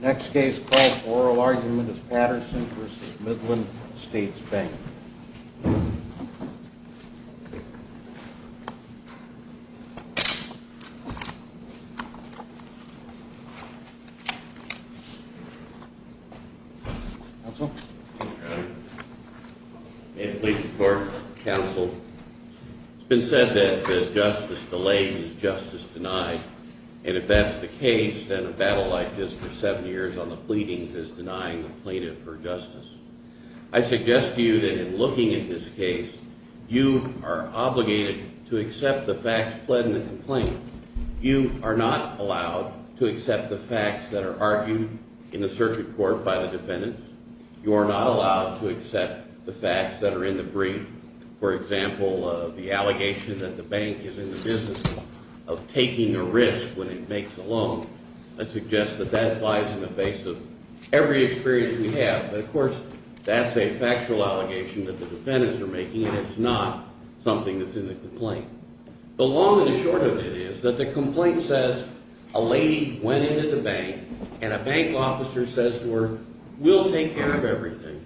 The next case called Oral Argument is Patterson v. Midland States Bank. May it please the Court, Counsel. It's been said that justice delayed is justice denied, and if that's the case, then a battle like this for seven years on the pleadings is denying the plaintiff her justice. I suggest to you that in looking at this case, you are obligated to accept the facts pled in the complaint. You are not allowed to accept the facts that are argued in the circuit court by the defendants. You are not allowed to accept the facts that are in the brief. For example, the allegation that the bank is in the business of taking a risk when it makes a loan. I suggest that that applies in the face of every experience we have. But, of course, that's a factual allegation that the defendants are making, and it's not something that's in the complaint. The long and the short of it is that the complaint says a lady went into the bank, and a bank officer says to her, we'll take care of everything.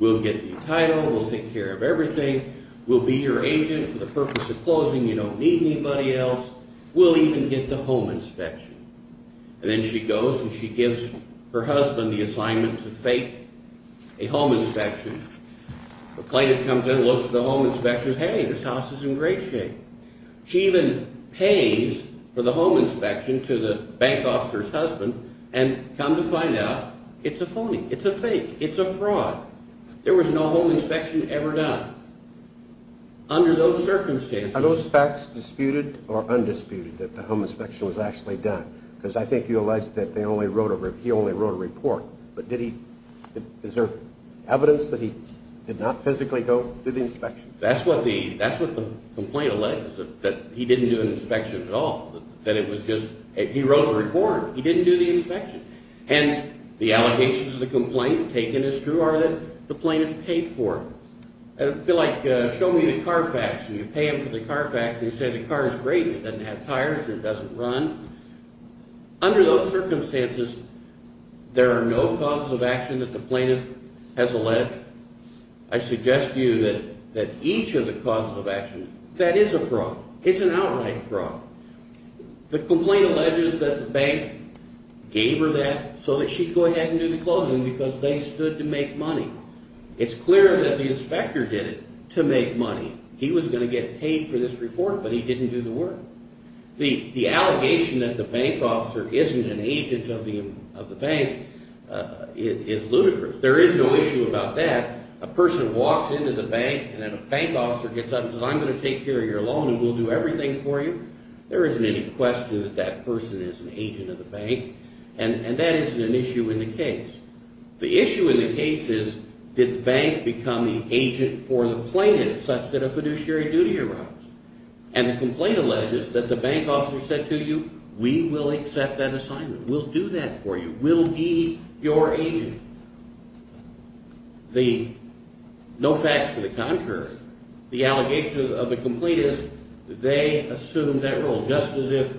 We'll get you title. We'll take care of everything. We'll be your agent for the purpose of closing. You don't need anybody else. We'll even get the home inspection. And then she goes, and she gives her husband the assignment to fake a home inspection. The plaintiff comes in and looks at the home inspection. Hey, this house is in great shape. She even pays for the home inspection to the bank officer's husband and come to find out it's a phony, it's a fake, it's a fraud. There was no home inspection ever done. Under those circumstances... Are those facts disputed or undisputed that the home inspection was actually done? Because I think you allege that he only wrote a report. But is there evidence that he did not physically go do the inspection? That's what the complaint alleges, that he didn't do an inspection at all, that it was just... He wrote a report. He didn't do the inspection. And the allegations of the complaint taken as true are that the plaintiff paid for it. It would be like, show me the car fax. And you pay him for the car fax and you say the car is great and it doesn't have tires or it doesn't run. Under those circumstances, there are no causes of action that the plaintiff has alleged. I suggest to you that each of the causes of action... That is a fraud. It's an outright fraud. The complaint alleges that the bank gave her that so that she'd go ahead and do the closing because they stood to make money. It's clear that the inspector did it to make money. He was going to get paid for this report, but he didn't do the work. The allegation that the bank officer isn't an agent of the bank is ludicrous. There is no issue about that. A person walks into the bank and then a bank officer gets up and says, I'm going to take care of your loan and we'll do everything for you. There isn't any question that that person is an agent of the bank. And that isn't an issue in the case. The issue in the case is, did the bank become the agent for the plaintiff such that a fiduciary duty arose? And the complaint alleges that the bank officer said to you, we will accept that assignment. We'll do that for you. We'll be your agent. No facts to the contrary. The allegation of the complaint is they assumed that role, just as if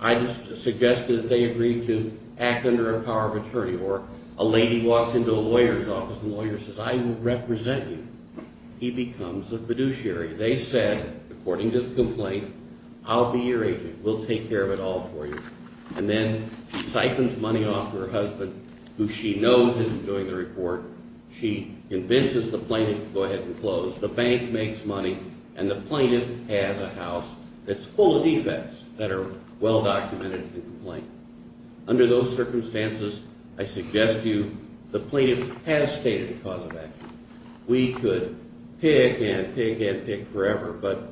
I suggested that they agreed to act under a power of attorney. Or a lady walks into a lawyer's office and the lawyer says, I will represent you. He becomes a fiduciary. They said, according to the complaint, I'll be your agent. We'll take care of it all for you. And then she siphons money off her husband, who she knows isn't doing the report. She convinces the plaintiff to go ahead and close. The bank makes money, and the plaintiff has a house that's full of defects that are well documented in the complaint. Under those circumstances, I suggest to you, the plaintiff has stated a cause of action. We could pick and pick and pick forever, but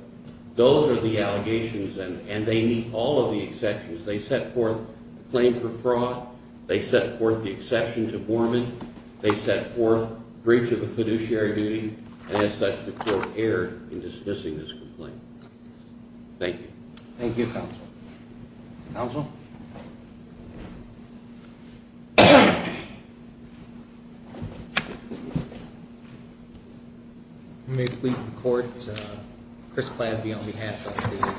those are the allegations, and they meet all of the exceptions. They set forth a claim for fraud. They set forth the exception to Borman. They set forth breach of a fiduciary duty. And as such, the court erred in dismissing this complaint. Thank you. Thank you, Counsel. Counsel? May it please the Court, Chris Clasby on behalf of the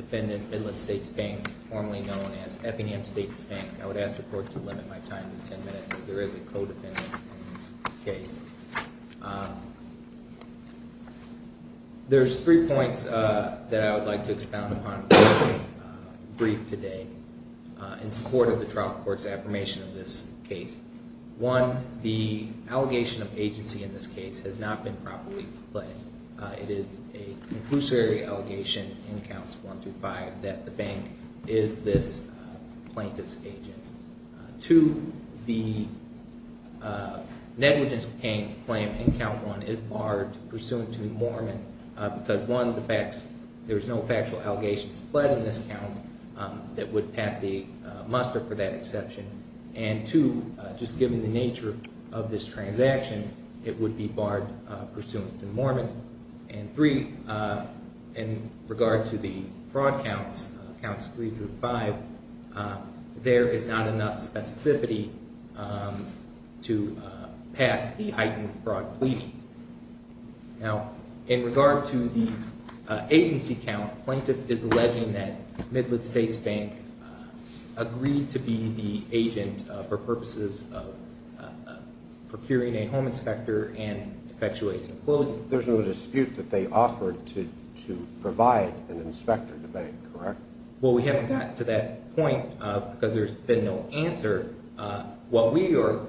defendant, Midland States Bank, formerly known as Eppingham States Bank. I would ask the Court to limit my time to 10 minutes, as there is a co-defendant in this case. There's three points that I would like to expound upon briefly, brief today, in support of the trial court's affirmation of this case. One, the allegation of agency in this case has not been properly played. It is a fiduciary allegation in Counts 1 through 5 that the bank is this plaintiff's agent. Two, the negligence claim in Count 1 is barred pursuant to Borman, because one, there's no factual allegations fled in this count that would pass the muster for that exception. And two, just given the nature of this transaction, it would be barred pursuant to Borman. And three, in regard to the fraud counts, Counts 3 through 5, there is not enough specificity to pass the heightened fraud plea. Now, in regard to the agency count, plaintiff is alleging that Midland States Bank agreed to be the agent for purposes of procuring a home inspector and effectuating a closing. There's no dispute that they offered to provide an inspector to the bank, correct? Well, we haven't gotten to that point because there's been no answer. What we are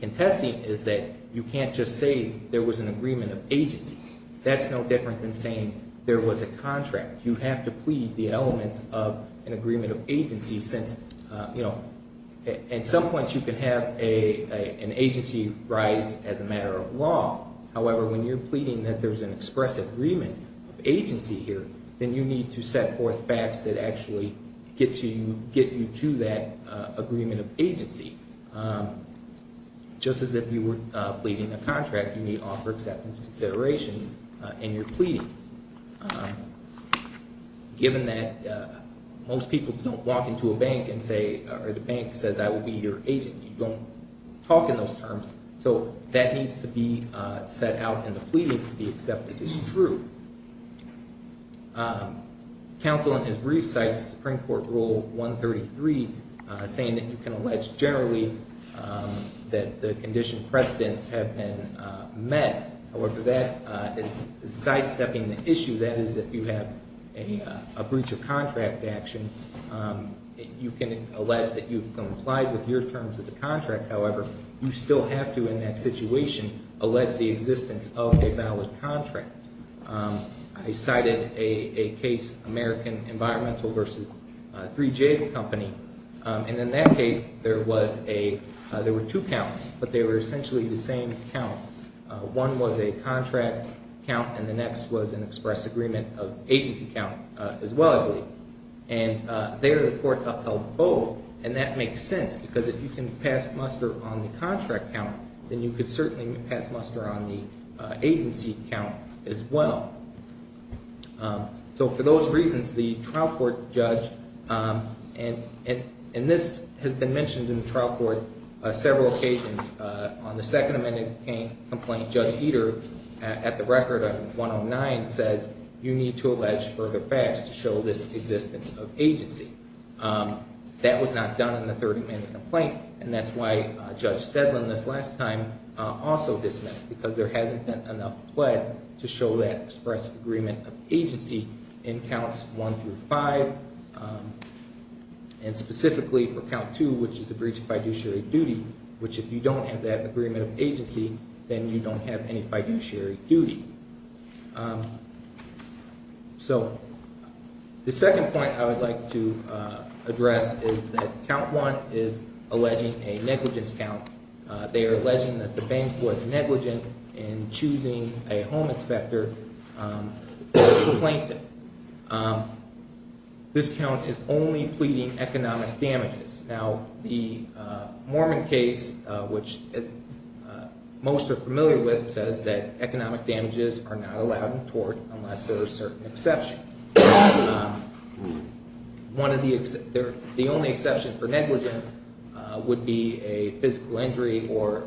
contesting is that you can't just say there was an agreement of agency. That's no different than saying there was a contract. You have to plead the elements of an agreement of agency since, you know, at some point you can have an agency rise as a matter of law. However, when you're pleading that there's an express agreement of agency here, then you need to set forth facts that actually get you to that agreement of agency. Just as if you were pleading a contract, you need offer acceptance consideration in your pleading. Given that most people don't walk into a bank and say, or the bank says, I will be your agent. You don't talk in those terms. So that needs to be set out in the pleadings to be accepted as true. Counsel in his brief cites Supreme Court Rule 133 saying that you can allege generally that the condition precedents have been met. However, that is sidestepping the issue. That is, if you have a breach of contract action, you can allege that you've complied with your terms of the contract. However, you still have to, in that situation, allege the existence of a valid contract. I cited a case, American Environmental versus 3J Company. And in that case, there were two counts, but they were essentially the same counts. One was a contract count, and the next was an express agreement of agency count as well, I believe. And there, the court upheld both. And that makes sense, because if you can pass muster on the contract count, then you can certainly pass muster on the agency count as well. So for those reasons, the trial court judge, and this has been mentioned in the trial court several occasions. On the Second Amendment complaint, Judge Eder, at the record on 109, says you need to allege further facts to show this existence of agency. That was not done in the Third Amendment complaint. And that's why Judge Sedlin this last time also dismissed, because there hasn't been enough pled to show that express agreement of agency in counts 1 through 5. And specifically for count 2, which is the breach of fiduciary duty, which if you don't have that agreement of agency, then you don't have any fiduciary duty. So the second point I would like to address is that count 1 is alleging a negligence count. They are alleging that the bank was negligent in choosing a home inspector for the plaintiff. This count is only pleading economic damages. Now, the Mormon case, which most are familiar with, says that economic damages are not allowed in tort unless there are certain exceptions. The only exception for negligence would be a physical injury, or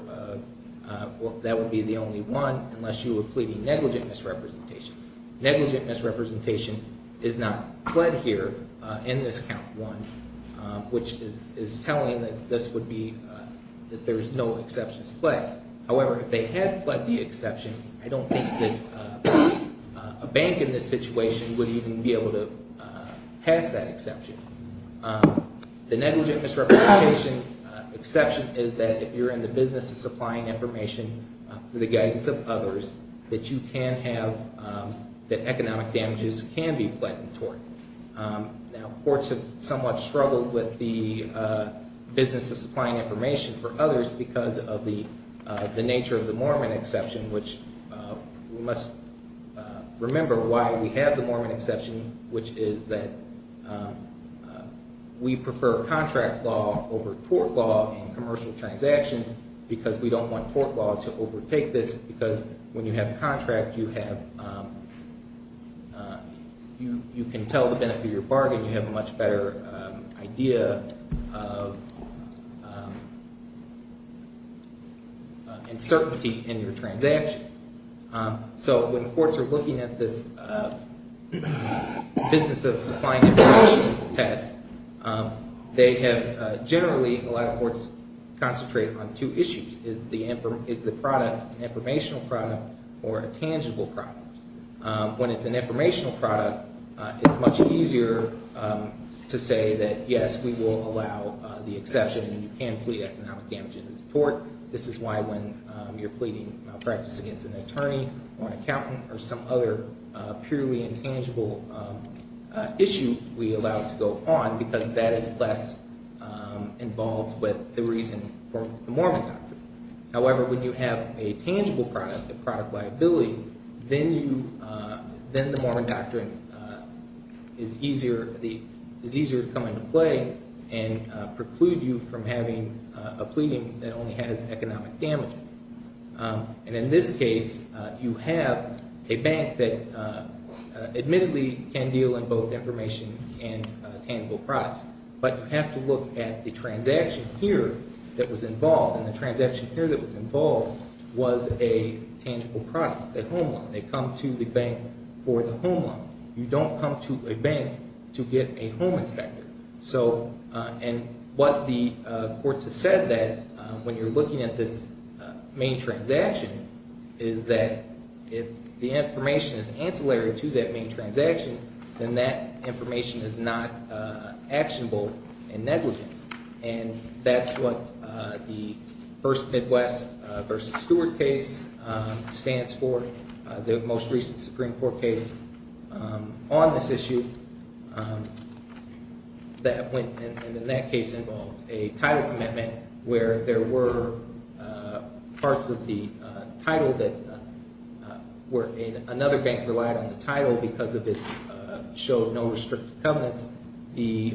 that would be the only one, unless you were pleading negligent misrepresentation. Negligent misrepresentation is not pled here in this count 1, which is telling that this would be, that there's no exceptions pled. However, if they had pled the exception, I don't think that a bank in this situation would even be able to pass that exception. The negligent misrepresentation exception is that if you're in the business of supplying information for the guidance of others, that you can have, that economic damages can be pled in tort. Now, courts have somewhat struggled with the business of supplying information for others because of the nature of the Mormon exception, which we must remember why we have the Mormon exception, which is that we prefer contract law over tort law in commercial transactions because we don't want tort law to overtake this because when you have a contract, you have, you can tell the benefit of your bargain. You have a much better idea of uncertainty in your transactions. So when courts are looking at this business of supplying information test, they have generally, a lot of courts concentrate on two issues. Is the product an informational product or a tangible product? When it's an informational product, it's much easier to say that, yes, we will allow the exception and you can plead economic damage in the tort. This is why when you're pleading malpractice against an attorney or an accountant or some other purely intangible issue, we allow it to go on because that is less involved with the reason for the Mormon doctrine. However, when you have a tangible product, a product liability, then you, then the Mormon doctrine is easier, is easier to come into play and preclude you from having a pleading that only has economic damages. And in this case, you have a bank that admittedly can deal in both information and tangible products, but you have to look at the transaction here that was involved, and the transaction here that was involved was a tangible product, a home loan. They come to the bank for the home loan. You don't come to a bank to get a home inspector. So, and what the courts have said that when you're looking at this main transaction, is that if the information is ancillary to that main transaction, then that information is not actionable in negligence. And that's what the first Midwest versus Stewart case stands for. The most recent Supreme Court case on this issue that went in that case involved a title commitment where there were parts of the title that were in another bank relied on the title because of its show of no restricted covenants. The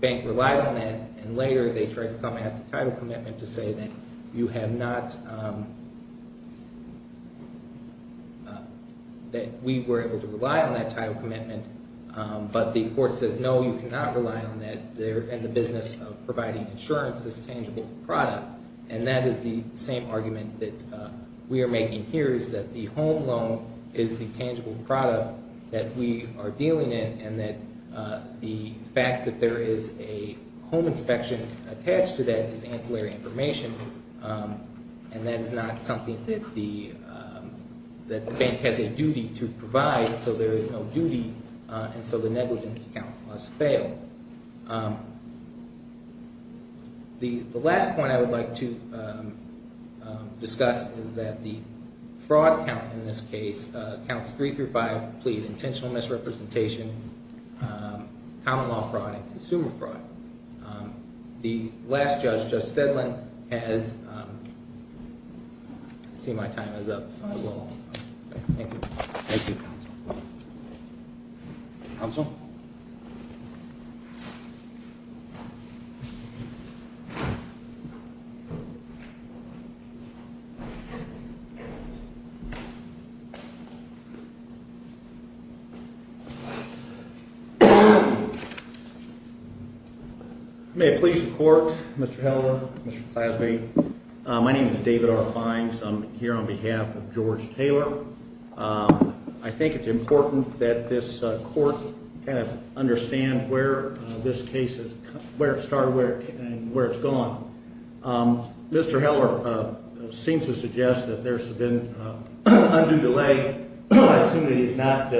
bank relied on that, and later they tried to come at the title commitment to say that you have not, that we were able to rely on that title commitment, but the court says, no, you cannot rely on that. They're in the business of providing insurance, this tangible product, and that is the same argument that we are making here is that the home loan is the tangible product that we are dealing in and that the fact that there is a home inspection attached to that is ancillary information, and that is not something that the bank has a duty to provide. So there is no duty, and so the negligence count must fail. The last point I would like to discuss is that the fraud count in this case, counts three through five plead intentional misrepresentation, common law fraud, and consumer fraud. The last judge, Judge Stedland, has seen my time is up, so I will. Thank you. Thank you. Counsel? May I please report, Mr. Heller, Mr. Plasby? My name is David R. Fines. I'm here on behalf of George Taylor. I think it's important that this court kind of understand where this case is, where it started and where it's gone. Mr. Heller seems to suggest that there's been undue delay. I assume that he's not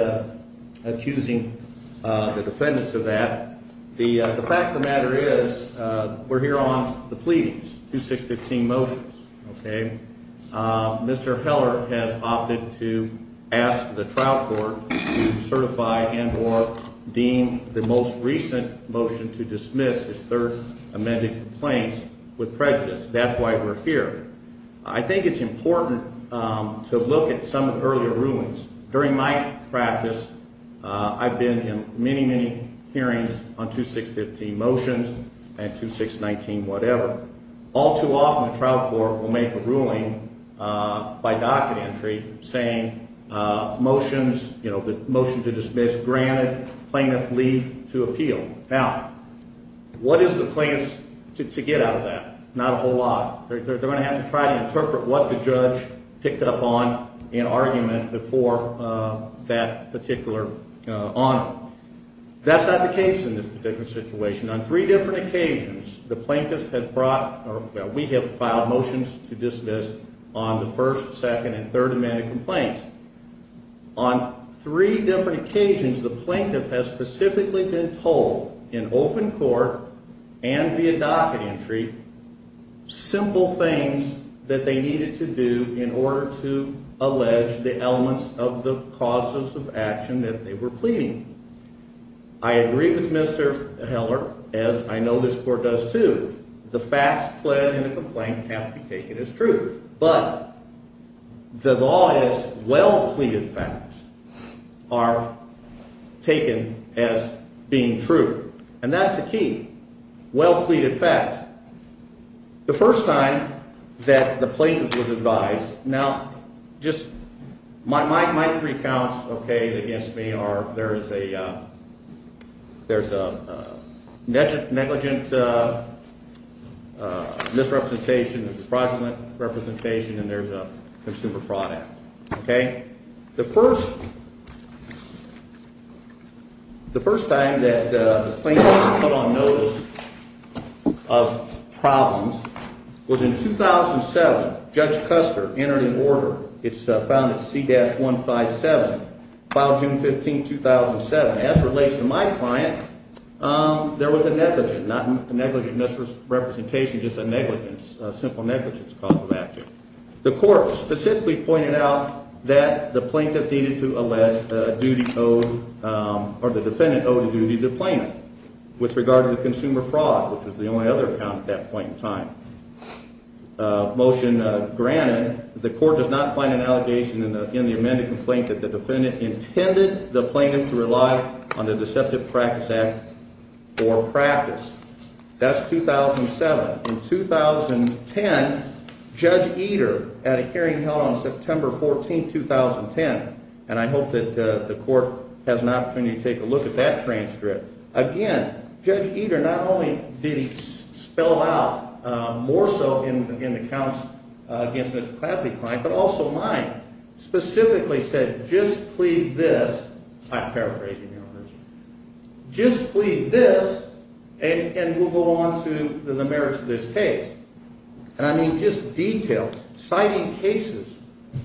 accusing the defendants of that. The fact of the matter is we're here on the pleadings, 2-6-15 motions, okay? Mr. Heller has opted to ask the trial court to certify and or deem the most recent motion to dismiss his third amended complaint with prejudice. That's why we're here. I think it's important to look at some of the earlier rulings. During my practice, I've been in many, many hearings on 2-6-15 motions and 2-6-19 whatever. All too often, the trial court will make a ruling by docket entry saying motions, you know, the motion to dismiss granted plaintiff leave to appeal. Now, what is the plaintiff to get out of that? Not a whole lot. They're going to have to try to interpret what the judge picked up on in argument before that particular honor. That's not the case in this particular situation. On three different occasions, the plaintiff has brought or we have filed motions to dismiss on the first, second, and third amended complaints. On three different occasions, the plaintiff has specifically been told in open court and via docket entry simple things that they needed to do in order to allege the elements of the causes of action that they were pleading. I agree with Mr. Heller, as I know this court does too. The facts pled in the complaint have to be taken as true. But the law is well-pleaded facts are taken as being true. And that's the key, well-pleaded facts. The first time that the plaintiff was advised, now, just my three counts, okay, against me are there's a negligent misrepresentation, there's a fraudulent representation, and there's a consumer fraud act. The first time that the plaintiff was put on notice of problems was in 2007. Judge Custer entered an order. It's found at C-157, filed June 15, 2007. As relates to my client, there was a negligent, not a negligent misrepresentation, just a negligence, a simple negligence cause of action. The court specifically pointed out that the plaintiff needed to allege a duty owed or the defendant owed a duty to the plaintiff with regard to the consumer fraud, which was the only other count at that point in time. Motion granted, the court does not find an allegation in the amended complaint that the defendant intended the plaintiff to rely on the deceptive practice act or practice. That's 2007. In 2010, Judge Eder had a hearing held on September 14, 2010, and I hope that the court has an opportunity to take a look at that transcript. Again, Judge Eder not only did he spell out more so in the counts against Mr. Cladley's client, but also mine, specifically said, just plead this. I'm paraphrasing. Just plead this, and we'll go on to the merits of this case. And I mean just detail, citing cases,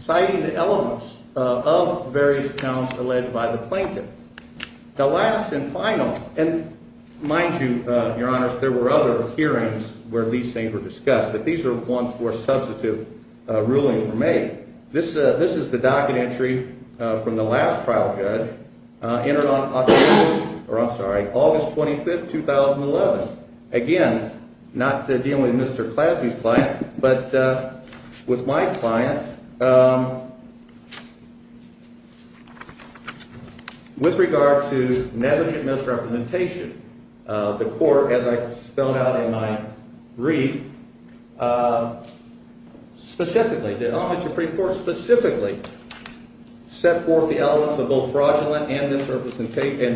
citing the elements of various counts alleged by the plaintiff. The last and final, and mind you, Your Honors, there were other hearings where these things were discussed, but these are ones where substantive rulings were made. This is the docket entry from the last trial judge, entered on October, or I'm sorry, August 25, 2011. Again, not dealing with Mr. Cladley's client, but with my client, with regard to negligent misrepresentation. The court, as I spelled out in my brief, specifically, the Office of the Supreme Court specifically set forth the elements of both fraudulent and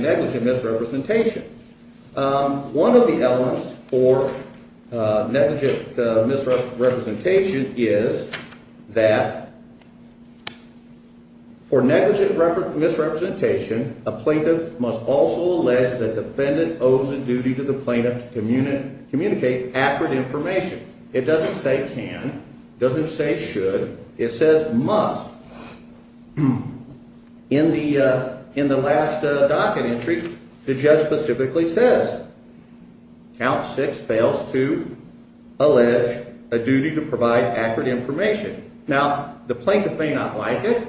negligent misrepresentation. One of the elements for negligent misrepresentation is that for negligent misrepresentation, a plaintiff must also allege that the defendant owes a duty to the plaintiff to communicate accurate information. It doesn't say can. It doesn't say should. It says must. In the last docket entry, the judge specifically says Count 6 fails to allege a duty to provide accurate information. Now, the plaintiff may not like it.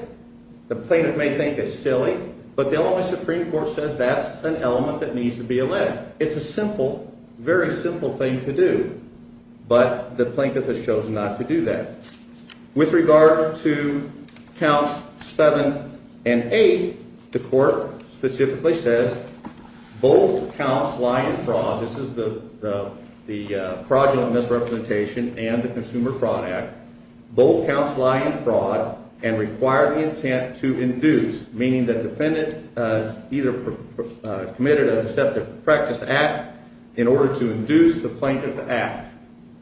The plaintiff may think it's silly, but the Office of the Supreme Court says that's an element that needs to be alleged. It's a simple, very simple thing to do, but the plaintiff has chosen not to do that. With regard to Counts 7 and 8, the court specifically says both counts lie in fraud. This is the fraudulent misrepresentation and the Consumer Fraud Act. Both counts lie in fraud and require the intent to induce, meaning the defendant either committed an accepted practice act in order to induce the plaintiff to act.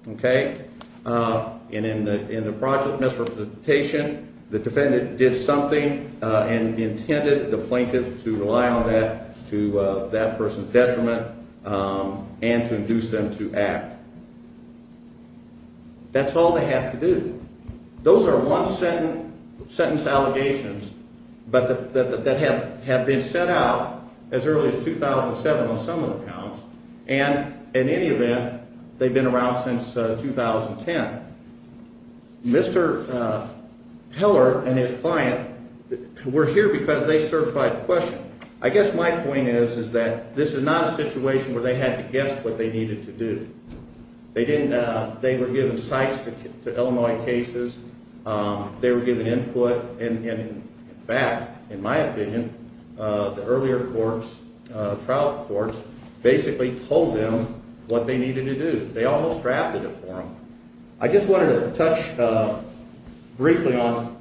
In the fraudulent misrepresentation, the defendant did something and intended the plaintiff to rely on that to that person's detriment and to induce them to act. That's all they have to do. Those are one-sentence allegations that have been set out as early as 2007 on some of the counts, and in any event, they've been around since 2010. Mr. Heller and his client were here because they certified the question. I guess my point is that this is not a situation where they had to guess what they needed to do. They were given sites to Illinois cases. They were given input, and in fact, in my opinion, the earlier trial courts basically told them what they needed to do. They almost drafted it for them. I just wanted to touch briefly on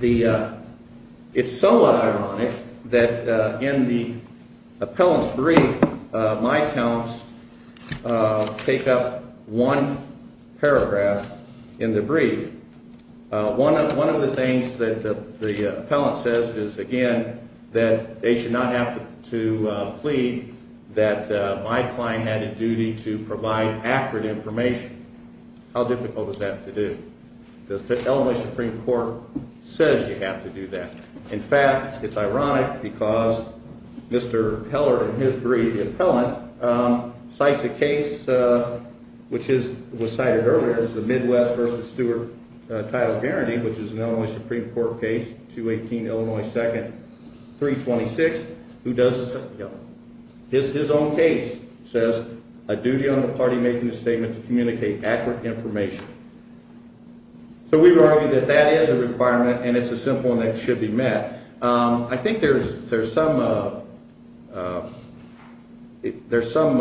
the – it's somewhat ironic that in the appellant's brief, my accounts take up one paragraph in the brief. One of the things that the appellant says is, again, that they should not have to plead that my client had a duty to provide accurate information. How difficult is that to do? The Illinois Supreme Court says you have to do that. In fact, it's ironic because Mr. Heller in his brief, the appellant, cites a case which was cited earlier. It's the Midwest v. Stewart title guarantee, which is an Illinois Supreme Court case, 218 Illinois 2nd, 326. His own case says, a duty on the party making a statement to communicate accurate information. So we would argue that that is a requirement, and it's a simple one that should be met. I think there's some – there's some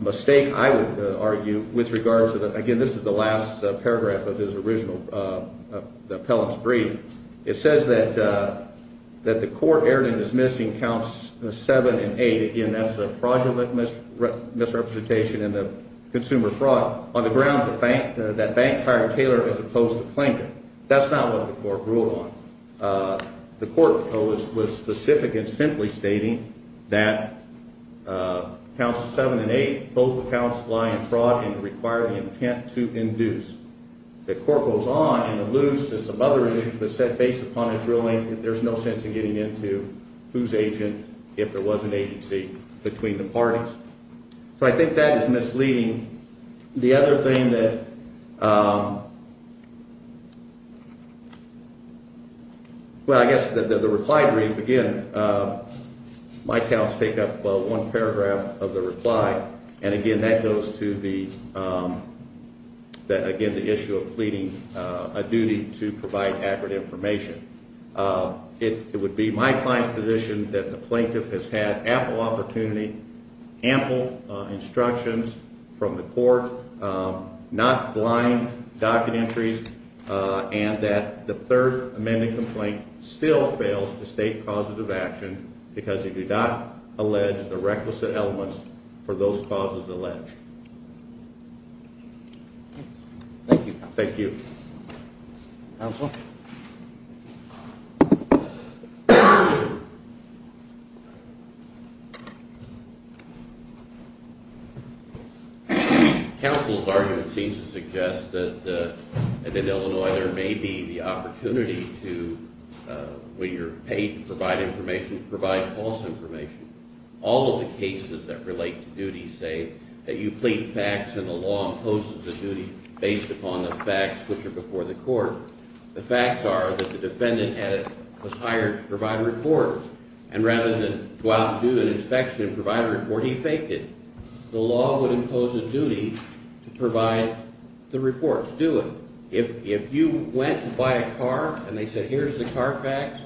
mistake, I would argue, with regards to the – again, this is the last paragraph of his original – the appellant's brief. It says that the court erred in dismissing counts 7 and 8. Again, that's the fraudulent misrepresentation and the consumer fraud on the grounds that bank hired Taylor as opposed to claiming. That's not what the court ruled on. The court was specific in simply stating that counts 7 and 8, both accounts lie in fraud and require the intent to induce. The court goes on and alludes to some other issues, but based upon his ruling, there's no sense in getting into whose agent, if there was an agency, between the parties. So I think that is misleading. The other thing that – well, I guess the reply brief, again, my counts take up one paragraph of the reply, and again, that goes to the – again, the issue of pleading a duty to provide accurate information. It would be my client's position that the plaintiff has had ample opportunity, ample instructions from the court, not blind docket entries, and that the third amended complaint still fails to state causes of action because it did not allege the requisite elements for those causes alleged. Thank you. Thank you. Counsel? Counsel's argument seems to suggest that in Illinois there may be the opportunity to, when you're paid to provide information, to provide false information. All of the cases that relate to duties say that you plead facts and the law imposes a duty based upon the facts which are before the court. The facts are that the defendant was hired to provide a report, and rather than go out and do an inspection and provide a report, he faked it. The law would impose a duty to provide the report to do it. If you went to buy a car and they said, here's the car facts,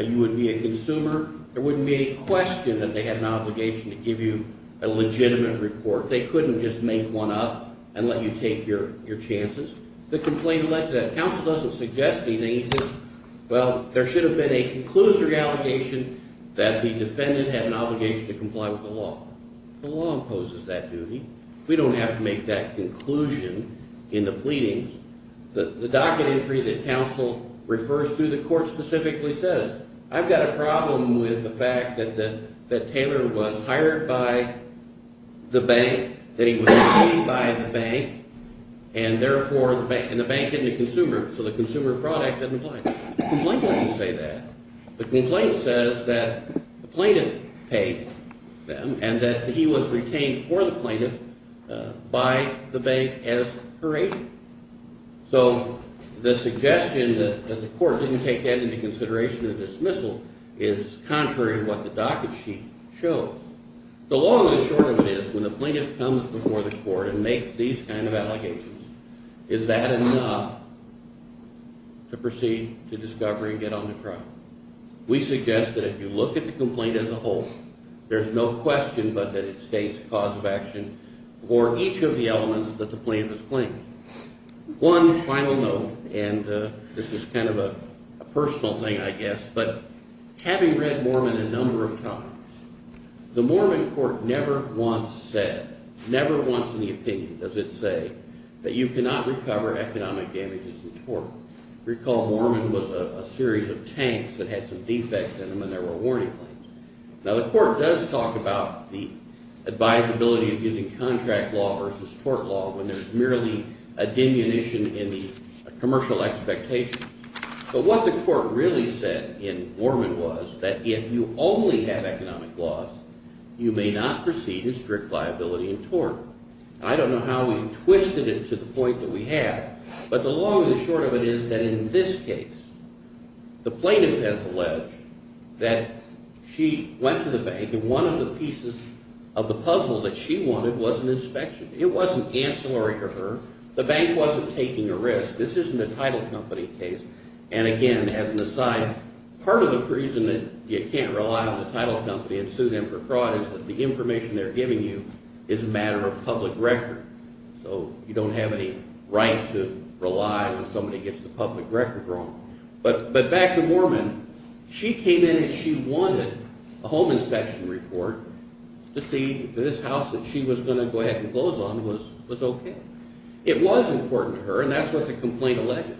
you would be a consumer, there wouldn't be any question that they had an obligation to give you a legitimate report. They couldn't just make one up and let you take your chances. The complaint alleges that. Counsel doesn't suggest anything. He says, well, there should have been a conclusive allegation that the defendant had an obligation to comply with the law. The law imposes that duty. We don't have to make that conclusion in the pleadings. The docket entry that counsel refers to, the court specifically says, I've got a problem with the fact that Taylor was hired by the bank, that he was paid by the bank, and therefore, and the bank isn't a consumer, so the consumer product doesn't apply. The complaint doesn't say that. The complaint says that the plaintiff paid them and that he was retained for the plaintiff by the bank as her agent. So the suggestion that the court didn't take that into consideration in the dismissal is contrary to what the docket sheet shows. The long and short of it is when the plaintiff comes before the court and makes these kind of allegations, is that enough to proceed to discovery and get on the trial? We suggest that if you look at the complaint as a whole, there's no question but that it states cause of action for each of the elements that the plaintiff is claiming. One final note, and this is kind of a personal thing, I guess, but having read Mormon a number of times, the Mormon court never once said, never once in the opinion does it say that you cannot recover economic damages in tort. Recall Mormon was a series of tanks that had some defects in them and there were warning claims. Now, the court does talk about the advisability of using contract law versus tort law when there's merely a diminution in the commercial expectation. But what the court really said in Mormon was that if you only have economic laws, you may not proceed in strict liability in tort. I don't know how we twisted it to the point that we have, but the long and short of it is that in this case, the plaintiff has alleged that she went to the bank and one of the pieces of the puzzle that she wanted was an inspection. It wasn't ancillary to her. The bank wasn't taking a risk. This isn't a title company case. And again, as an aside, part of the reason that you can't rely on the title company and sue them for fraud is that the information they're giving you is a matter of public record. So you don't have any right to rely when somebody gets the public record wrong. But back to Mormon, she came in and she wanted a home inspection report to see that this house that she was going to go ahead and close on was okay. It was important to her, and that's what the complaint alleges,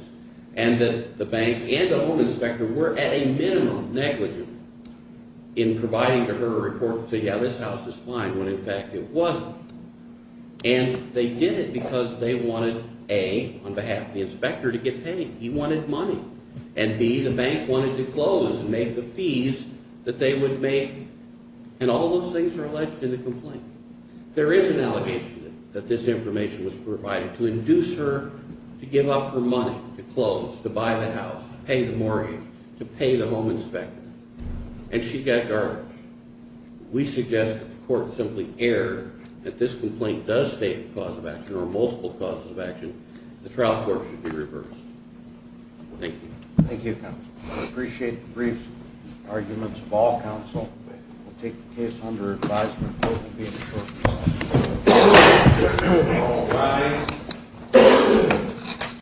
and that the bank and the home inspector were at a minimum negligent in providing to her a report to say, yeah, this house is fine, when in fact it wasn't. And they did it because they wanted, A, on behalf of the inspector to get paid. He wanted money. And, B, the bank wanted to close and make the fees that they would make. There is an allegation that this information was provided to induce her to give up her money to close, to buy the house, to pay the mortgage, to pay the home inspector. And she got garbage. We suggest that the court simply err that this complaint does state a cause of action or multiple causes of action. The trial court should be reversed. Thank you. Thank you, counsel. I appreciate the brief arguments of all counsel. We'll take the case under advisory for the court to be adjourned. All rise.